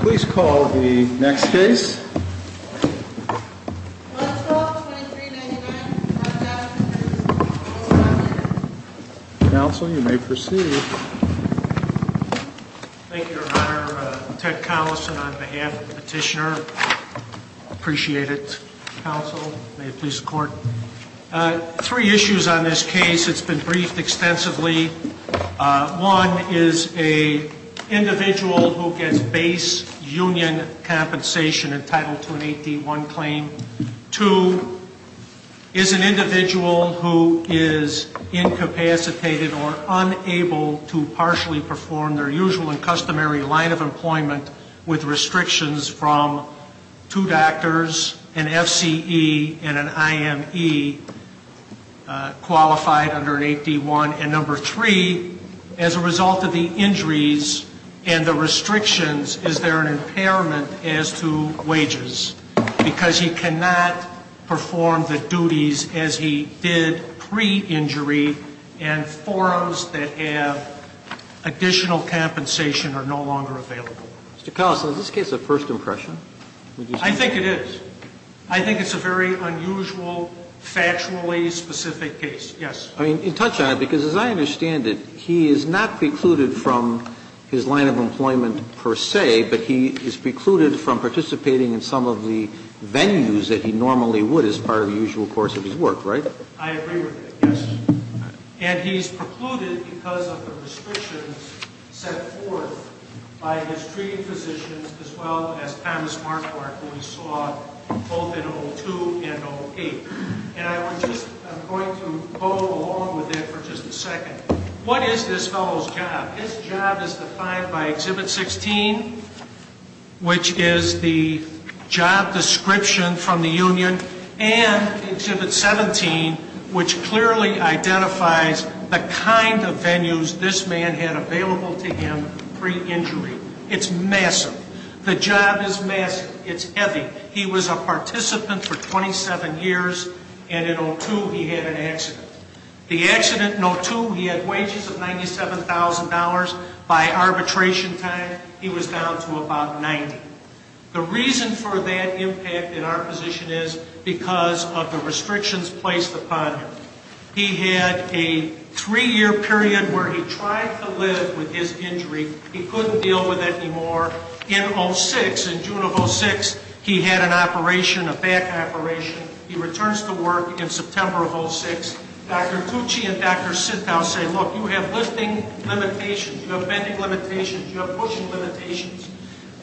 Please call the next case. Counsel, you may proceed. Thank you, your honor. Ted Collison on behalf of the petitioner. Appreciate it, counsel. May it please the court. Three issues on this case. It's been briefed extensively. One is a union compensation entitled to an 8D1 claim. Two, is an individual who is incapacitated or unable to partially perform their usual and customary line of employment with restrictions from two doctors, an FCE, and an IME qualified under an 8D1. And number three, as a result of the injuries and the impairment as to wages. Because he cannot perform the duties as he did pre-injury and forums that have additional compensation are no longer available. Mr. Collison, is this case a first impression? I think it is. I think it's a very unusual, factually specific case. Yes. I mean, you touch on it because as I understand it, he is not precluded from his line of employment per se, but he is precluded from participating in some of the venues that he normally would as part of the usual course of his work, right? I agree with that, yes. And he's precluded because of the restrictions set forth by his treating physicians, as well as Thomas Markwardt, who we saw both in O2 and O8. And I'm just going to go along with that for just a second. What is this fellow's job? His job is defined by Exhibit 16, which is the job description from the union, and Exhibit 17, which clearly identifies the kind of venues this man had available to him pre-injury. It's massive. The job is massive. It's heavy. He was a participant for 27 years, and in O2, he had an accident. The accident in O2, he had wages of $97,000. By arbitration time, he was down to about $90,000. The reason for that impact in our position is because of the restrictions placed upon him. He had a three-year period where he tried to live with his injury. He couldn't deal with it anymore. In O6, in June of O6, he had an operation, a back operation. He returns to work in September of O6. Dr. Cucci and Dr. Sittow say, look, you have lifting limitations. You have bending limitations. You have pushing limitations.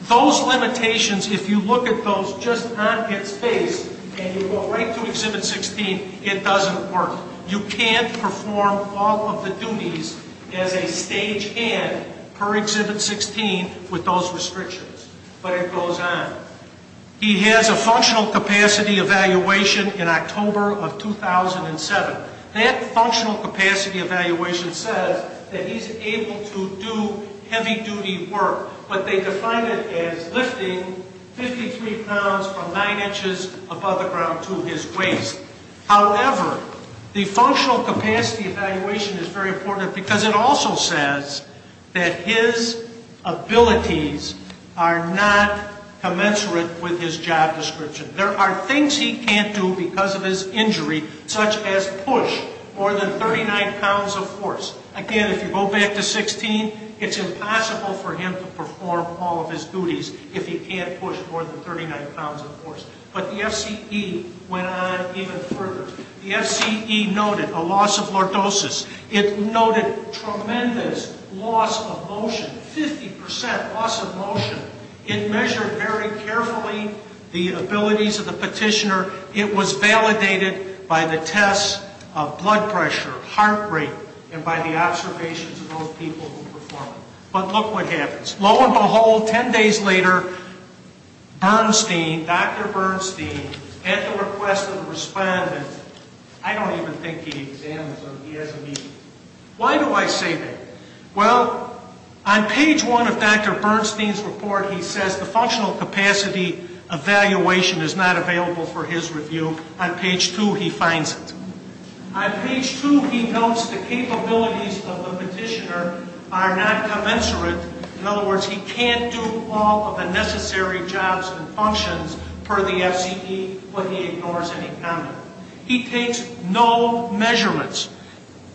Those limitations, if you look at those just on its face, and you go right to Exhibit 16, it doesn't work. You can't perform all of the duties as a stagehand per Exhibit 16 with those restrictions. But it goes on. He has a functional capacity evaluation in October of 2007. That functional capacity evaluation says that he's able to do heavy-duty work, but they defined it as lifting 53 pounds from 9 inches above the ground to his waist. However, the functional capacity evaluation is very important because it also says that his abilities are not commensurate with his job description. There are things he can't do because of his injury, such as push more than 39 pounds of force. Again, if you go back to 16, it's impossible for him to perform all of his duties if he can't push more than 39 pounds of force. But the FCE went on even further. The FCE noted a loss of lordosis. It noted tremendous loss of motion, 50% loss of motion. It measured very carefully the abilities of the petitioner. It was validated by the tests of blood pressure, heart rate, and by the observations of those people who performed. But look what happens. Lo and behold, 10 days later, Bernstein, Dr. Bernstein, at the request of the respondent, I don't even think he exams or he has a meeting. Why do I say that? Well, on page 1 of Dr. Bernstein's report, he says the functional capacity evaluation is not available for his review. On page 2, he finds it. On page 2, he notes the capabilities of the petitioner are not commensurate. In other words, he can't do all of the necessary jobs and functions per the FCE, but he ignores any comment. He takes no measurements.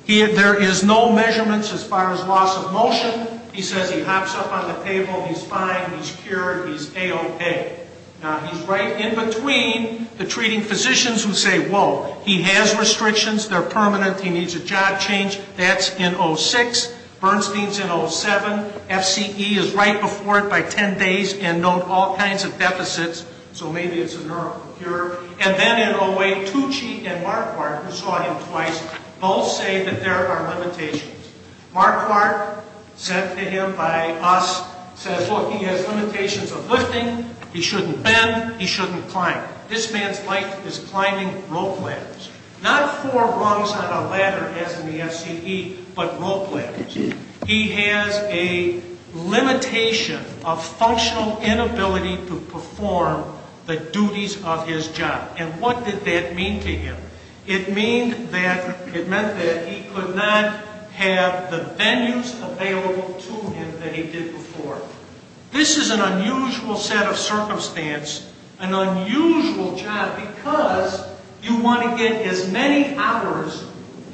There is no measurements as far as loss of motion. He says he hops up on the table, he's fine, he's cured, he's A-OK. Now, he's right in between the treating physicians who say, whoa, he has restrictions, they're permanent, he needs a job change. That's in 06. Bernstein's in 07. FCE is right before it by 10 days and note all kinds of deficits, so maybe it's a neuro-cure. And then in 08, Tucci and Marquardt, who saw him twice, both say that there are limitations. Marquardt, sent to him by us, says, look, he has limitations of lifting, he shouldn't bend, he shouldn't climb. This man's life is climbing rope ladders. Not four rungs on a ladder as in the FCE, but rope ladders. He has a limitation of functional inability to perform the duties of his job. And what did that mean to him? It meant that he could not have the venues available to him that he did before. This is an unusual set of circumstance, an unusual job, because you want to get as many hours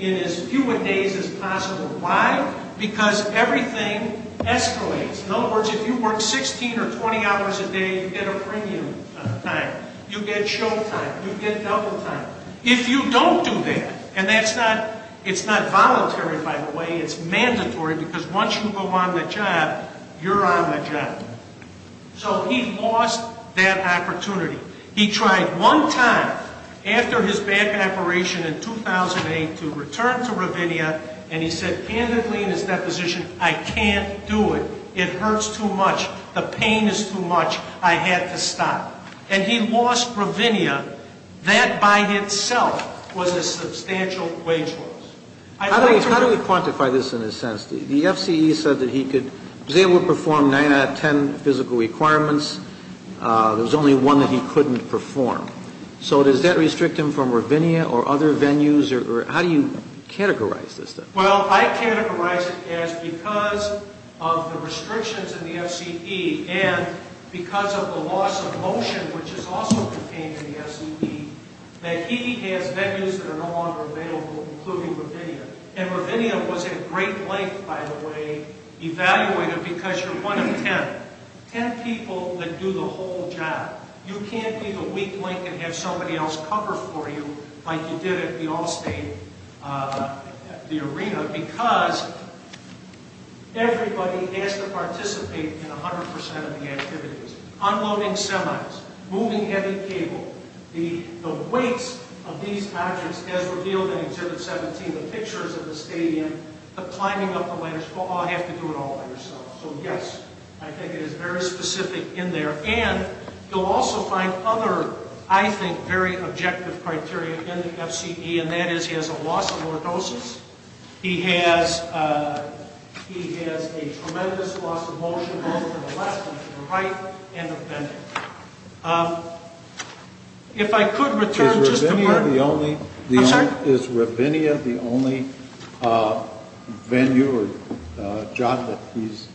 in as few days as possible. Why? Because everything escalates. In other words, if you work 16 or 20 hours a day, you get a premium time. You get show time, you get double time. If you don't do that, and that's not, it's not voluntary, by the way, it's mandatory, because once you go on the job, you're on the job. So he lost that opportunity. He tried one time, after his back operation in 2008, to return to Rovinia, and he said candidly in his deposition, I can't do it. It hurts too much, the pain is too much, I have to stop. And he lost Rovinia. That by itself was a substantial wage loss. How do we quantify this in a sense? The FCE said that he was able to perform 9 out of 10 physical requirements. There was only one that he couldn't perform. So does that restrict him from Rovinia or other venues? How do you categorize this then? Well, I categorize it as because of the restrictions in the FCE and because of the loss of motion, which is also contained in the FCE, that he has venues that are no longer available, including Rovinia. And Rovinia was at great length, by the way, evaluated, because you're one of 10, 10 people that do the whole job. You can't be the weak link and have somebody else cover for you like you did at the Allstate, the arena, because everybody has to participate in 100% of the activities. Unloading semis, moving heavy cable, the weights of these objects as revealed in Exhibit 17, the pictures of the stadium, the climbing up the ladder, you have to do it all by yourself. So yes, I think it is very specific in there. And you'll also find other, I think, very objective criteria in the FCE, and that is he has a loss of lordosis, he has a tremendous loss of motion both to the left and to the right, and of bending. Is Rovinia the only venue or job that he's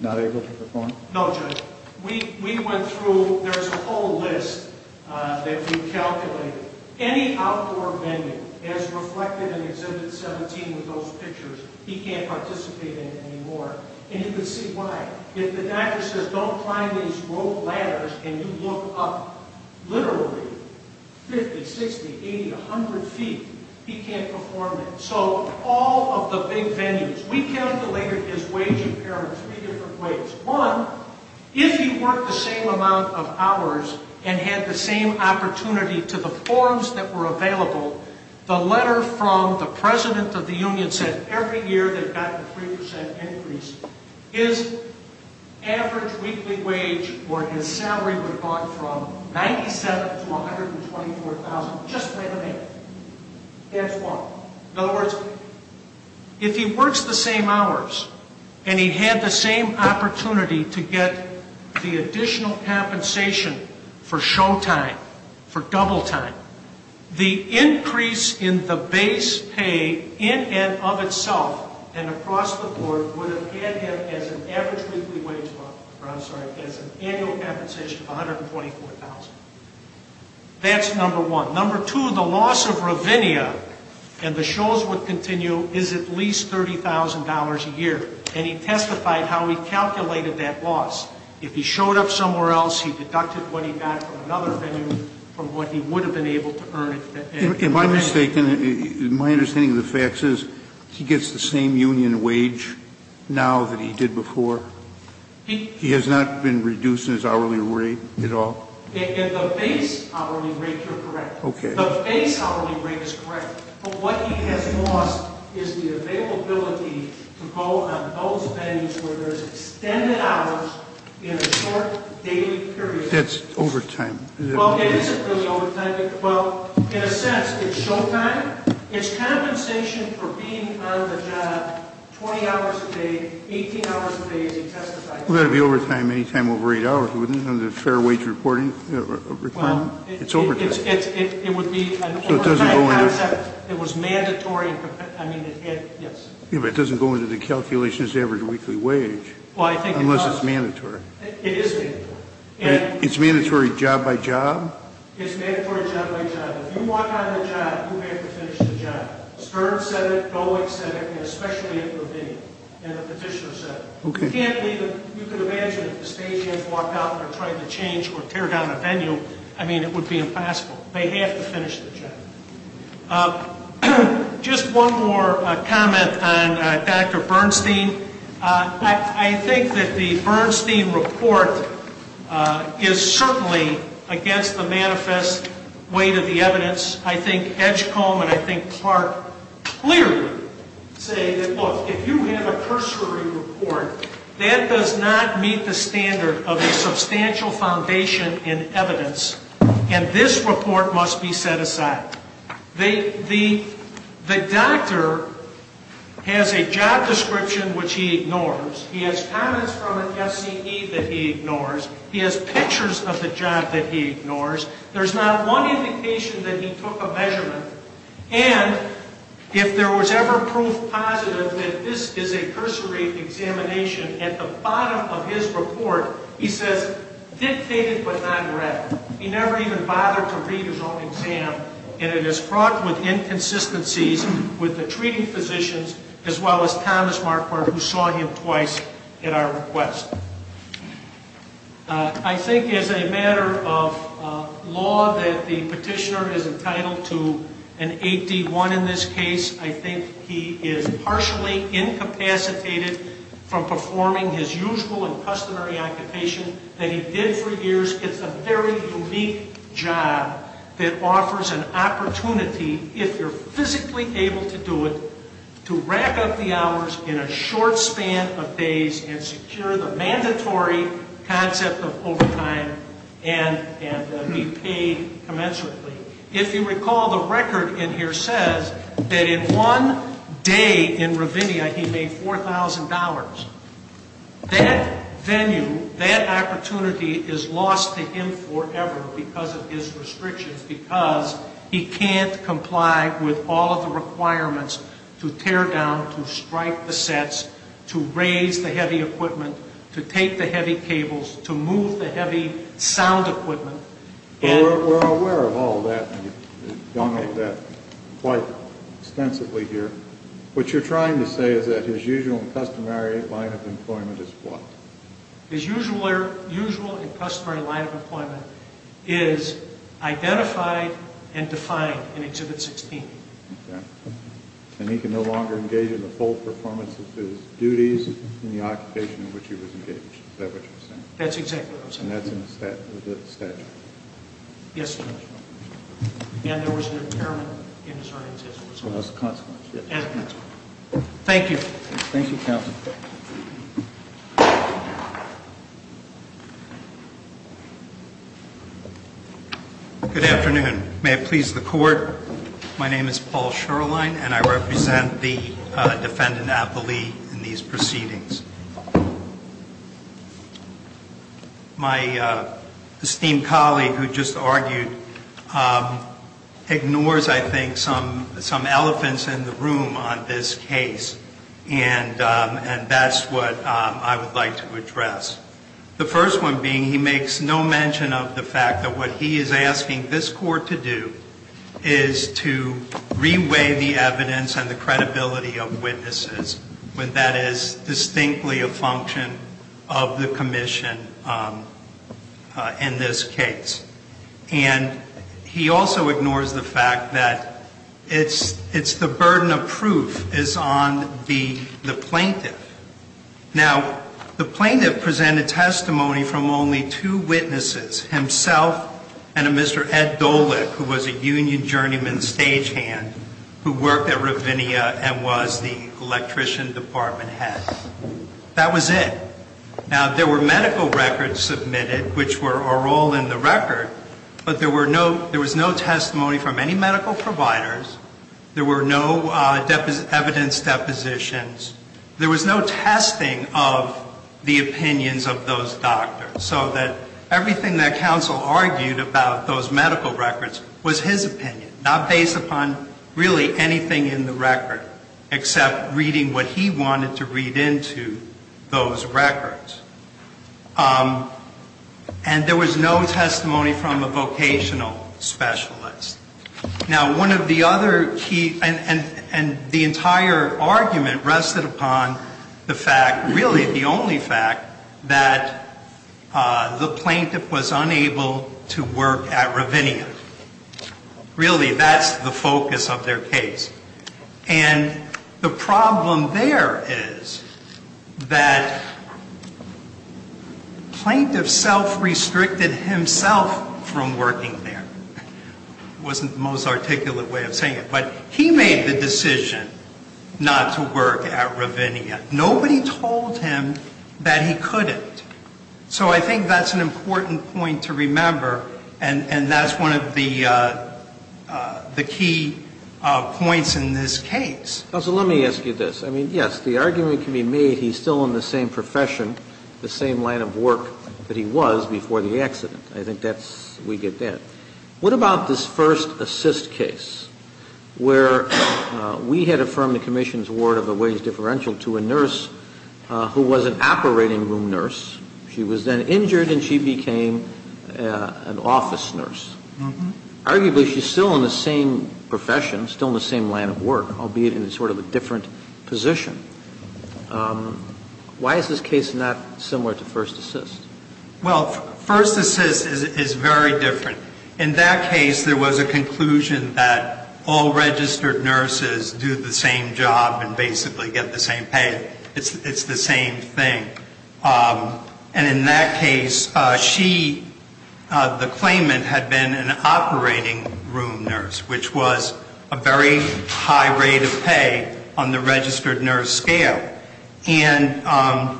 not able to perform? No, Judge. We went through, there's a whole list that we calculated. Any outdoor venue, as reflected in Exhibit 17 with those pictures, he can't participate in anymore. And you can see why. If the doctor says, don't climb these rope ladders, and you look up literally 50, 60, 80, 100 feet, he can't perform it. So all of the big venues, we calculated his wage in three different ways. One, if he worked the same amount of hours and had the same opportunity to the forms that were available, the letter from the President of the Union said every year they've gotten a 3% increase. His average weekly wage or his salary would have gone from $97,000 to $124,000 just by the minute. That's one. In other words, if he works the same hours and he had the same opportunity to get the additional compensation for show time, for double time, the increase in the base pay in and of itself and across the board would have had him as an average weekly wage, or I'm sorry, as an annual compensation of $124,000. That's number one. Number two, the loss of Rovinia and the shows would continue is at least $30,000 a year. And he testified how he calculated that loss. If he showed up somewhere else, he deducted what he got from another venue from what he would have been able to earn. Am I mistaken? My understanding of the facts is he gets the same union wage now that he did before? He has not been reduced in his hourly rate at all? The base hourly rate, you're correct. The base hourly rate is correct. But what he has lost is the availability to go on those venues where there's extended hours in a short daily period. That's overtime. Well, it isn't really overtime. In a sense, it's show time. It's compensation for being on the job 20 hours a day, 18 hours a day, as he testified. It would have to be overtime any time over 8 hours. There's no fair wage requirement. It's overtime. So it doesn't go into... It was mandatory... It doesn't go into the calculations of the average weekly wage unless it's mandatory. It is mandatory. It's mandatory job by job? It's mandatory job by job. If you walk out of the job, you have to finish the job. Stern said it, Bowick said it, and especially at Lavigne, and the petitioner said it. You can't leave a... You can imagine if the stagehand walked out and tried to change or tear down a venue. I mean, it would be impossible. They have to finish the job. Just one more comment on Dr. Bernstein. I think that the Bernstein report is certainly against the manifest weight of the evidence. I think Edgecombe and I think Clark clearly say that, look, if you have a cursory report, that does not meet the standard of a substantial foundation in evidence and this report must be set aside. The doctor has a job description which he ignores. He has comments from an FCE that he ignores. He has pictures of the job that he ignores. There's not one indication that he took a measurement and if there was ever proof positive that this is a cursory examination at the bottom of his report he says, dictated but not read. He never even bothered to read his own exam and it is fraught with inconsistencies with the treating physicians as well as Thomas Marquardt who saw him twice at our request. I think as a matter of law that the petitioner is entitled to an 8D1 in this case, I think he is partially incapacitated from performing his usual and customary occupation that he did for years. It's a very unique job that offers an opportunity if you're physically able to do it, to rack up the hours in a short span of days and secure the mandatory concept of overtime and be paid commensurately. If you recall the record in here says that in one day in Rovinia he made $4,000. That venue, that opportunity is lost to him forever because of his restrictions because he can't comply with all of the requirements to tear down, to strike the sets, to raise the heavy equipment, to take the heavy cables to move the heavy sound equipment We're aware of all that quite extensively here. What you're trying to say is that his usual and customary line of employment is what? His usual and customary line of employment is identified and defined in Exhibit 16. And he can no longer engage in the full performance of his duties in the occupation in which he was engaged. Is that what you're saying? That's exactly what I'm saying. And that's in the statute? Yes. And there was an impairment in his earnings as a result. As a consequence. Thank you. Good afternoon. May it please the Court. My name is Paul Sherline and I represent the defendant, Appleby in these proceedings. My esteemed colleague who just argued ignores I think some elephants in the room on this case and that's what I would like to address. The first one being he makes no mention of the fact that what he is asking this Court to do is to re-weigh the evidence and the commission that is distinctly a function of the commission in this case. And he also ignores the fact that it's the burden of proof is on the plaintiff. Now the plaintiff presented testimony from only two witnesses himself and a Mr. Ed Dolick who was a union journeyman stagehand who worked at Ravinia and was the electrician department head. That was it. Now there were medical records submitted which were all in the record but there was no testimony from any medical providers there were no evidence depositions there was no testing of the opinions of those doctors so that everything that counsel argued about those medical records was his opinion not based upon really anything in the record except reading what he wanted to read into those records. And there was no testimony from a vocational specialist. Now one of the other key and the entire argument rested upon the fact really the only fact that the plaintiff was unable to work at Ravinia really that's the focus of their case and the problem there is that plaintiff self-restricted himself from working there it wasn't the most articulate way of saying it but he made the decision not to work at Ravinia nobody told him that he couldn't so I think that's an important point to remember and that's one of the key points in this case Counsel let me ask you this the argument can be made he's still in the same profession the same line of work that he was before the accident I think that's we get there what about this first assist case where we had affirmed the commission's award of a wage differential to a nurse who was an operating room nurse she was then injured and she was an office nurse arguably she's still in the same profession still in the same line of work albeit in sort of a different position why is this case not similar to first assist well first assist is very different in that case there was a conclusion that all registered nurses do the same job and basically get the same pay it's the same thing and in that case she the claimant had been an operating room nurse which was a very high rate of pay on the registered nurse scale and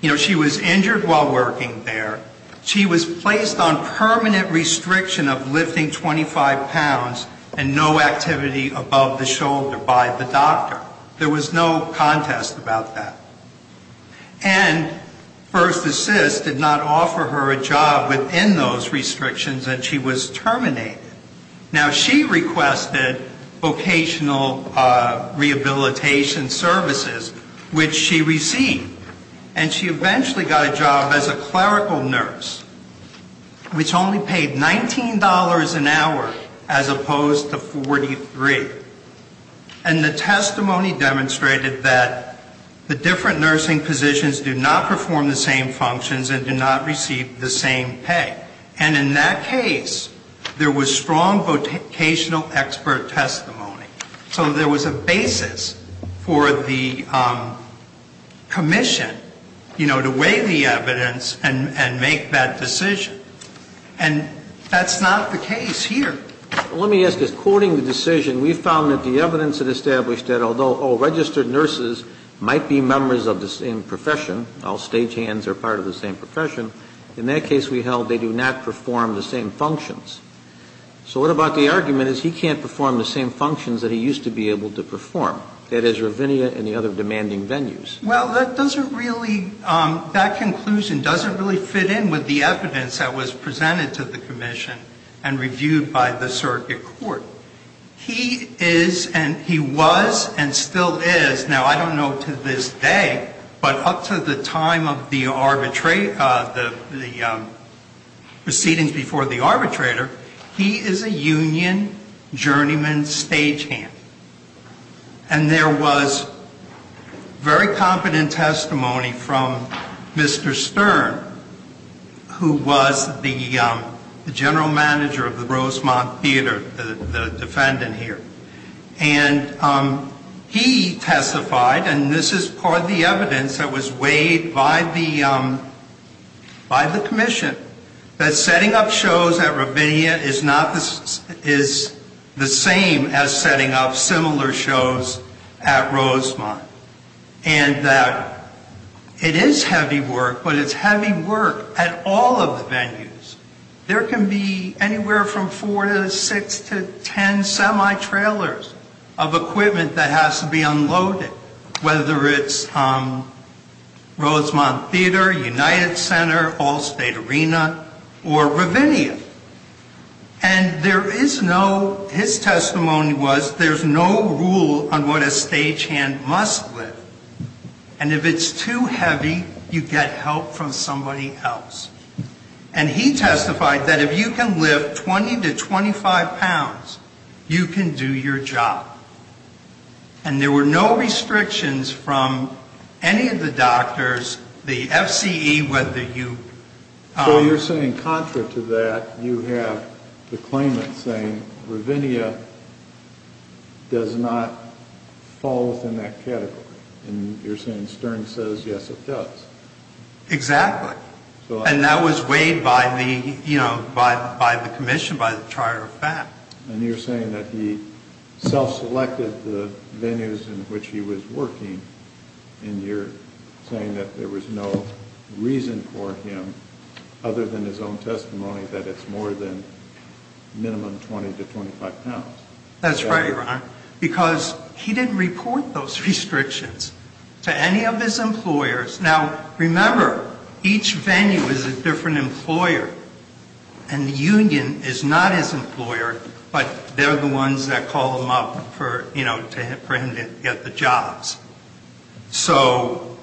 you know she was injured while working there she was placed on permanent restriction of lifting 25 pounds and no activity above the shoulder by the doctor there was no contest about that and first assist did not offer her a job within those restrictions and she was terminated now she requested vocational rehabilitation services which she received and she eventually got a job as a clerical nurse which only paid $19 an hour as opposed to $43 and the testimony demonstrated that the different nursing positions do not perform the same functions and do not receive the same pay and in that case there was strong vocational expert testimony so there was a basis for the commission to weigh the evidence and make that decision and that's not the case here let me ask this, quoting the decision we found that the evidence had established that although all registered nurses might be members of the same profession all stage hands are part of the same profession in that case we held they do not perform the same functions so what about the argument is he can't perform the same functions that he used to be able to perform that is Ravinia and the other demanding venues well that doesn't really that conclusion doesn't really fit in with the evidence that was presented to the commission and reviewed by the circuit court he is and he was and still is now I don't know to this day but up to the time of the arbitrate the proceedings before the arbitrator he is a union journeyman stage hand and there was very confident testimony from Mr. Stern who was the general manager of the Rosemont theater, the defendant here and he testified and this is part of the evidence that was weighed by the commission that setting up shows at Ravinia is not the same as setting up similar shows at Rosemont and that it is heavy work but it's heavy work at all of the venues there can be anywhere from 4 to 6 to 10 semi-trailers of equipment that has to be unloaded whether it's Rosemont Theater United Center Allstate Arena or Ravinia and there is no his testimony was there's no rule on what a stage hand must lift and if it's too heavy you get help from somebody else and he testified that if you can lift 20 to 25 pounds you can do your job and there were no restrictions from any of the doctors the FCE So you're saying contra to that you have the claimant saying Ravinia does not fall within that category and you're saying Stern says yes it does Exactly and that was weighed by the commission by the Charter of Fact and you're saying that he self-selected the venues in which he was working and you're saying that there was no reason for him other than his own testimony that it's more than minimum 20 to 25 pounds that's right because he didn't report those restrictions to any of his employers now remember each venue is a different employer and the union is not his employer but they're the ones that call him up for him to get the jobs So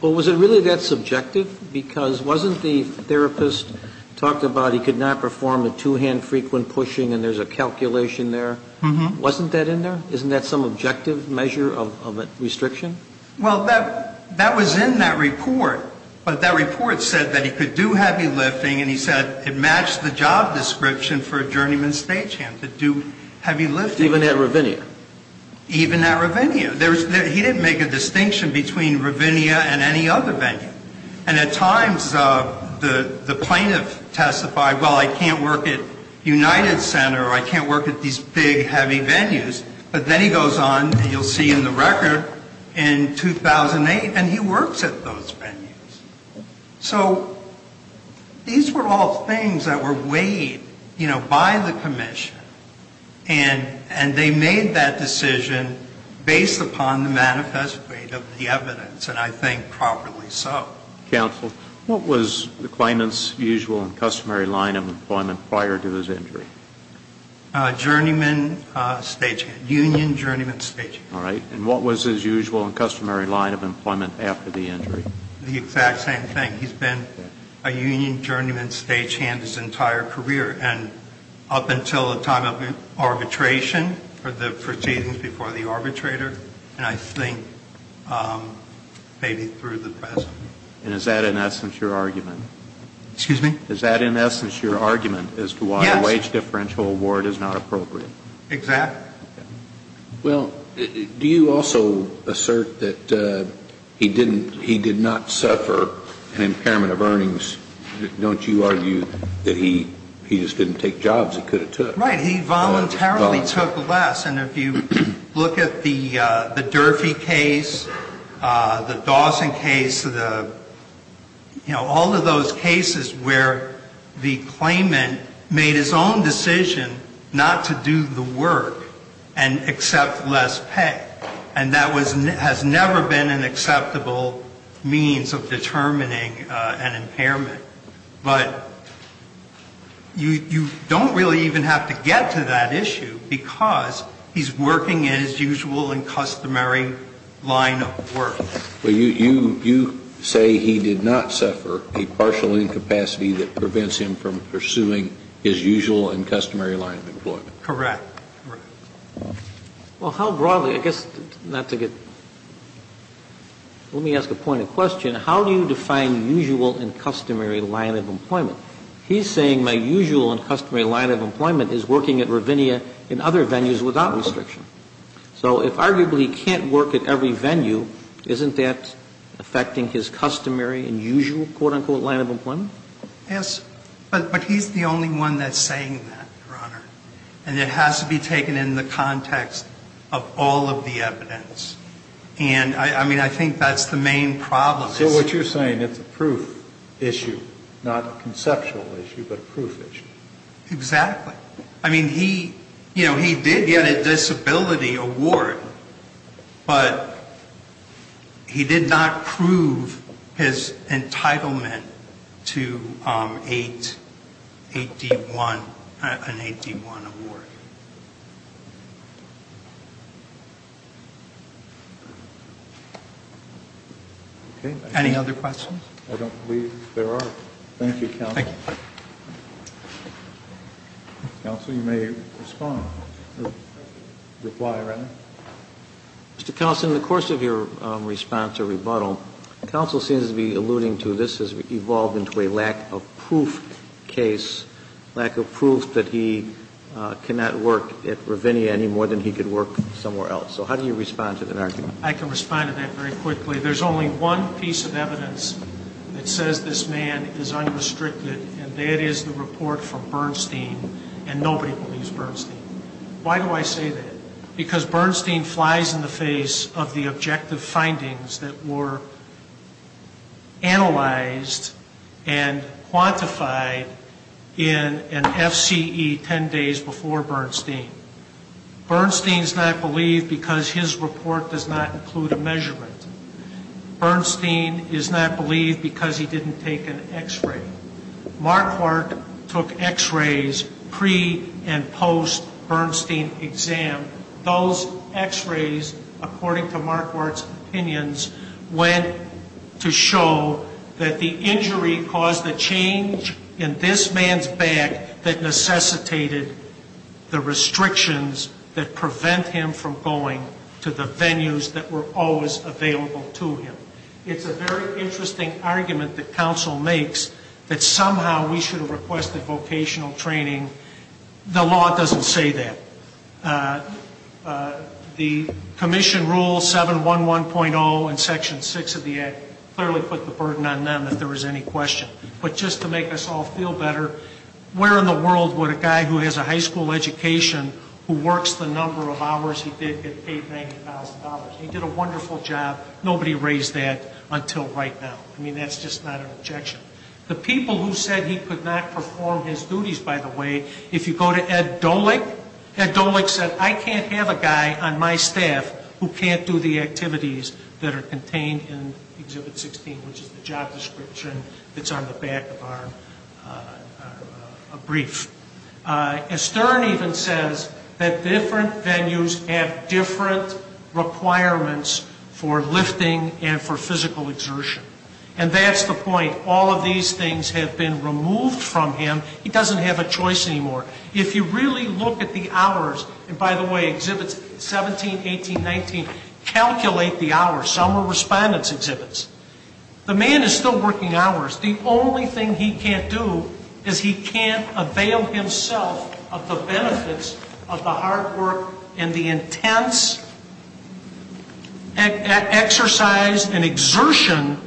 Was it really that subjective because wasn't the therapist talked about he could not perform a two-hand frequent pushing and there's a calculation there Wasn't that in there? Isn't that some objective measure of a restriction? Well that was in that report but that report said that he could do heavy lifting and he said it matched the job description for a journeyman stagehand Even at Ravinia? Even at Ravinia He didn't make a distinction between Ravinia and any other venue and at times the plaintiff testified well I can't work at United Center or I can't work at these big heavy venues but then he goes on and you'll see in the record in 2008 and he works at those venues so these were all things that were weighed by the commission and they made that decision based upon the manifest weight of the evidence and I think properly so Counsel, what was the claimant's usual and customary line of employment prior to his injury? Journeyman stagehand Union journeyman stagehand And what was his usual and customary line of employment after the injury? The exact same thing He's been a union journeyman stagehand his entire career and up until the time of arbitration for the proceedings before the arbitrator and I think maybe through the present And is that in essence your argument? Excuse me? Is that in essence your argument as to why a wage differential award is not appropriate? Exactly Well, do you also assert that he did not suffer an impairment of earnings don't you argue that he just didn't take jobs he could have took? Right, he voluntarily took less and if you look at the Durfee case the Dawson case you know all of those cases where the claimant made his own decision not to do the work and accept less pay and that has never been an acceptable means of determining an impairment but you don't really even have to get to that issue because he's working in his usual and customary line of work You say he did not suffer a partial incapacity that prevents him from pursuing his usual and customary line of employment? Correct Well how broadly I guess let me ask a point of question how do you define usual and customary line of employment he's saying my usual and customary line of employment is working at Ravinia in other venues without restriction so if arguably he can't work at every venue isn't that affecting his customary and usual quote unquote line of employment Yes, but he's the only one that's saying that and it has to be taken in the context of all of the evidence and I mean I think that's the main problem So what you're saying, it's a proof issue, not a conceptual issue, but a proof issue Exactly, I mean he did get a disability award but he did not prove his entitlement to an 8D1 award Any other questions? I don't believe there are Thank you, counsel Counsel, you may respond Reply, Randy Mr. Counsel, in the course of your response to rebuttal counsel seems to be alluding to this case, lack of proof that he cannot prove his entitlement to an 8D1 award He cannot work at Ravinia any more than he could work somewhere else So how do you respond to that? I can respond to that very quickly There's only one piece of evidence that says this man is unrestricted and that is the report from Bernstein and nobody believes Bernstein Why do I say that? Because Bernstein flies in the face of the objective findings that were analyzed and quantified in an FCE 10 days before Bernstein Bernstein's not believed because his report does not include a measurement Bernstein is not believed because he didn't take an x-ray Marquardt took x-rays pre and post Bernstein exam Those x-rays according to Marquardt's opinions went to show that the injury caused the change in this man's back that necessitated the restrictions that prevent him from going to the venues that were always available to him It's a very interesting argument that counsel makes that somehow we should have requested vocational training The law doesn't say that The commission rule 711.0 in section 6 of the act clearly put the burden on them if there was any question but just to make us all feel better where in the world would a guy who has a high school education who works the number of hours he did get paid $90,000 he did a wonderful job nobody raised that until right now I mean that's just not an objection The people who said he could not perform his duties by the way if you go to Ed Dolick Ed Dolick said I can't have a guy on my staff who can't do the activities that are contained in exhibit 16 which is the job description that's on the back of our brief Stern even says that different venues have different requirements for lifting and for physical exertion and that's the point all of these things have been removed from him he doesn't have a choice anymore if you really look at the hours and by the way exhibits 17,18,19 calculate the hours some are respondents exhibits the man is still working hours the only thing he can't do is he can't avail himself of the benefits of the hard work and the intense exercise and exertion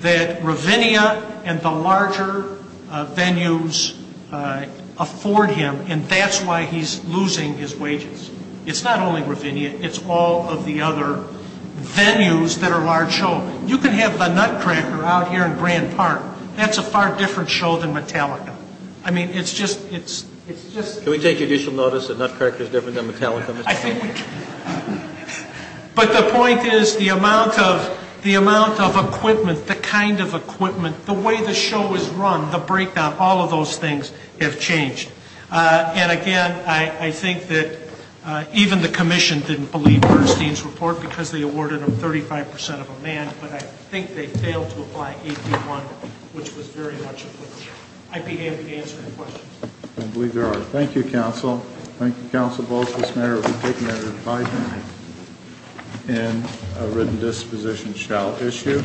that Ravinia and the larger venues afford him and that's why he's losing his wages it's not only Ravinia it's all of the other venues that are large show you can have the Nutcracker out here in Grand Park that's a far different show than Metallica I mean it's just Can we take additional notice that Nutcracker is different than Metallica? I think we can but the point is the amount of equipment the kind of equipment the way the show is run the breakdown all of those things have changed and again I think that even the commission didn't believe Bernstein's report because they awarded him 35% of a man but I think they failed to apply AP1 which was very much a fluke I'd be happy to answer any questions I believe there are thank you council thank you council both for this matter and a written disposition shall issue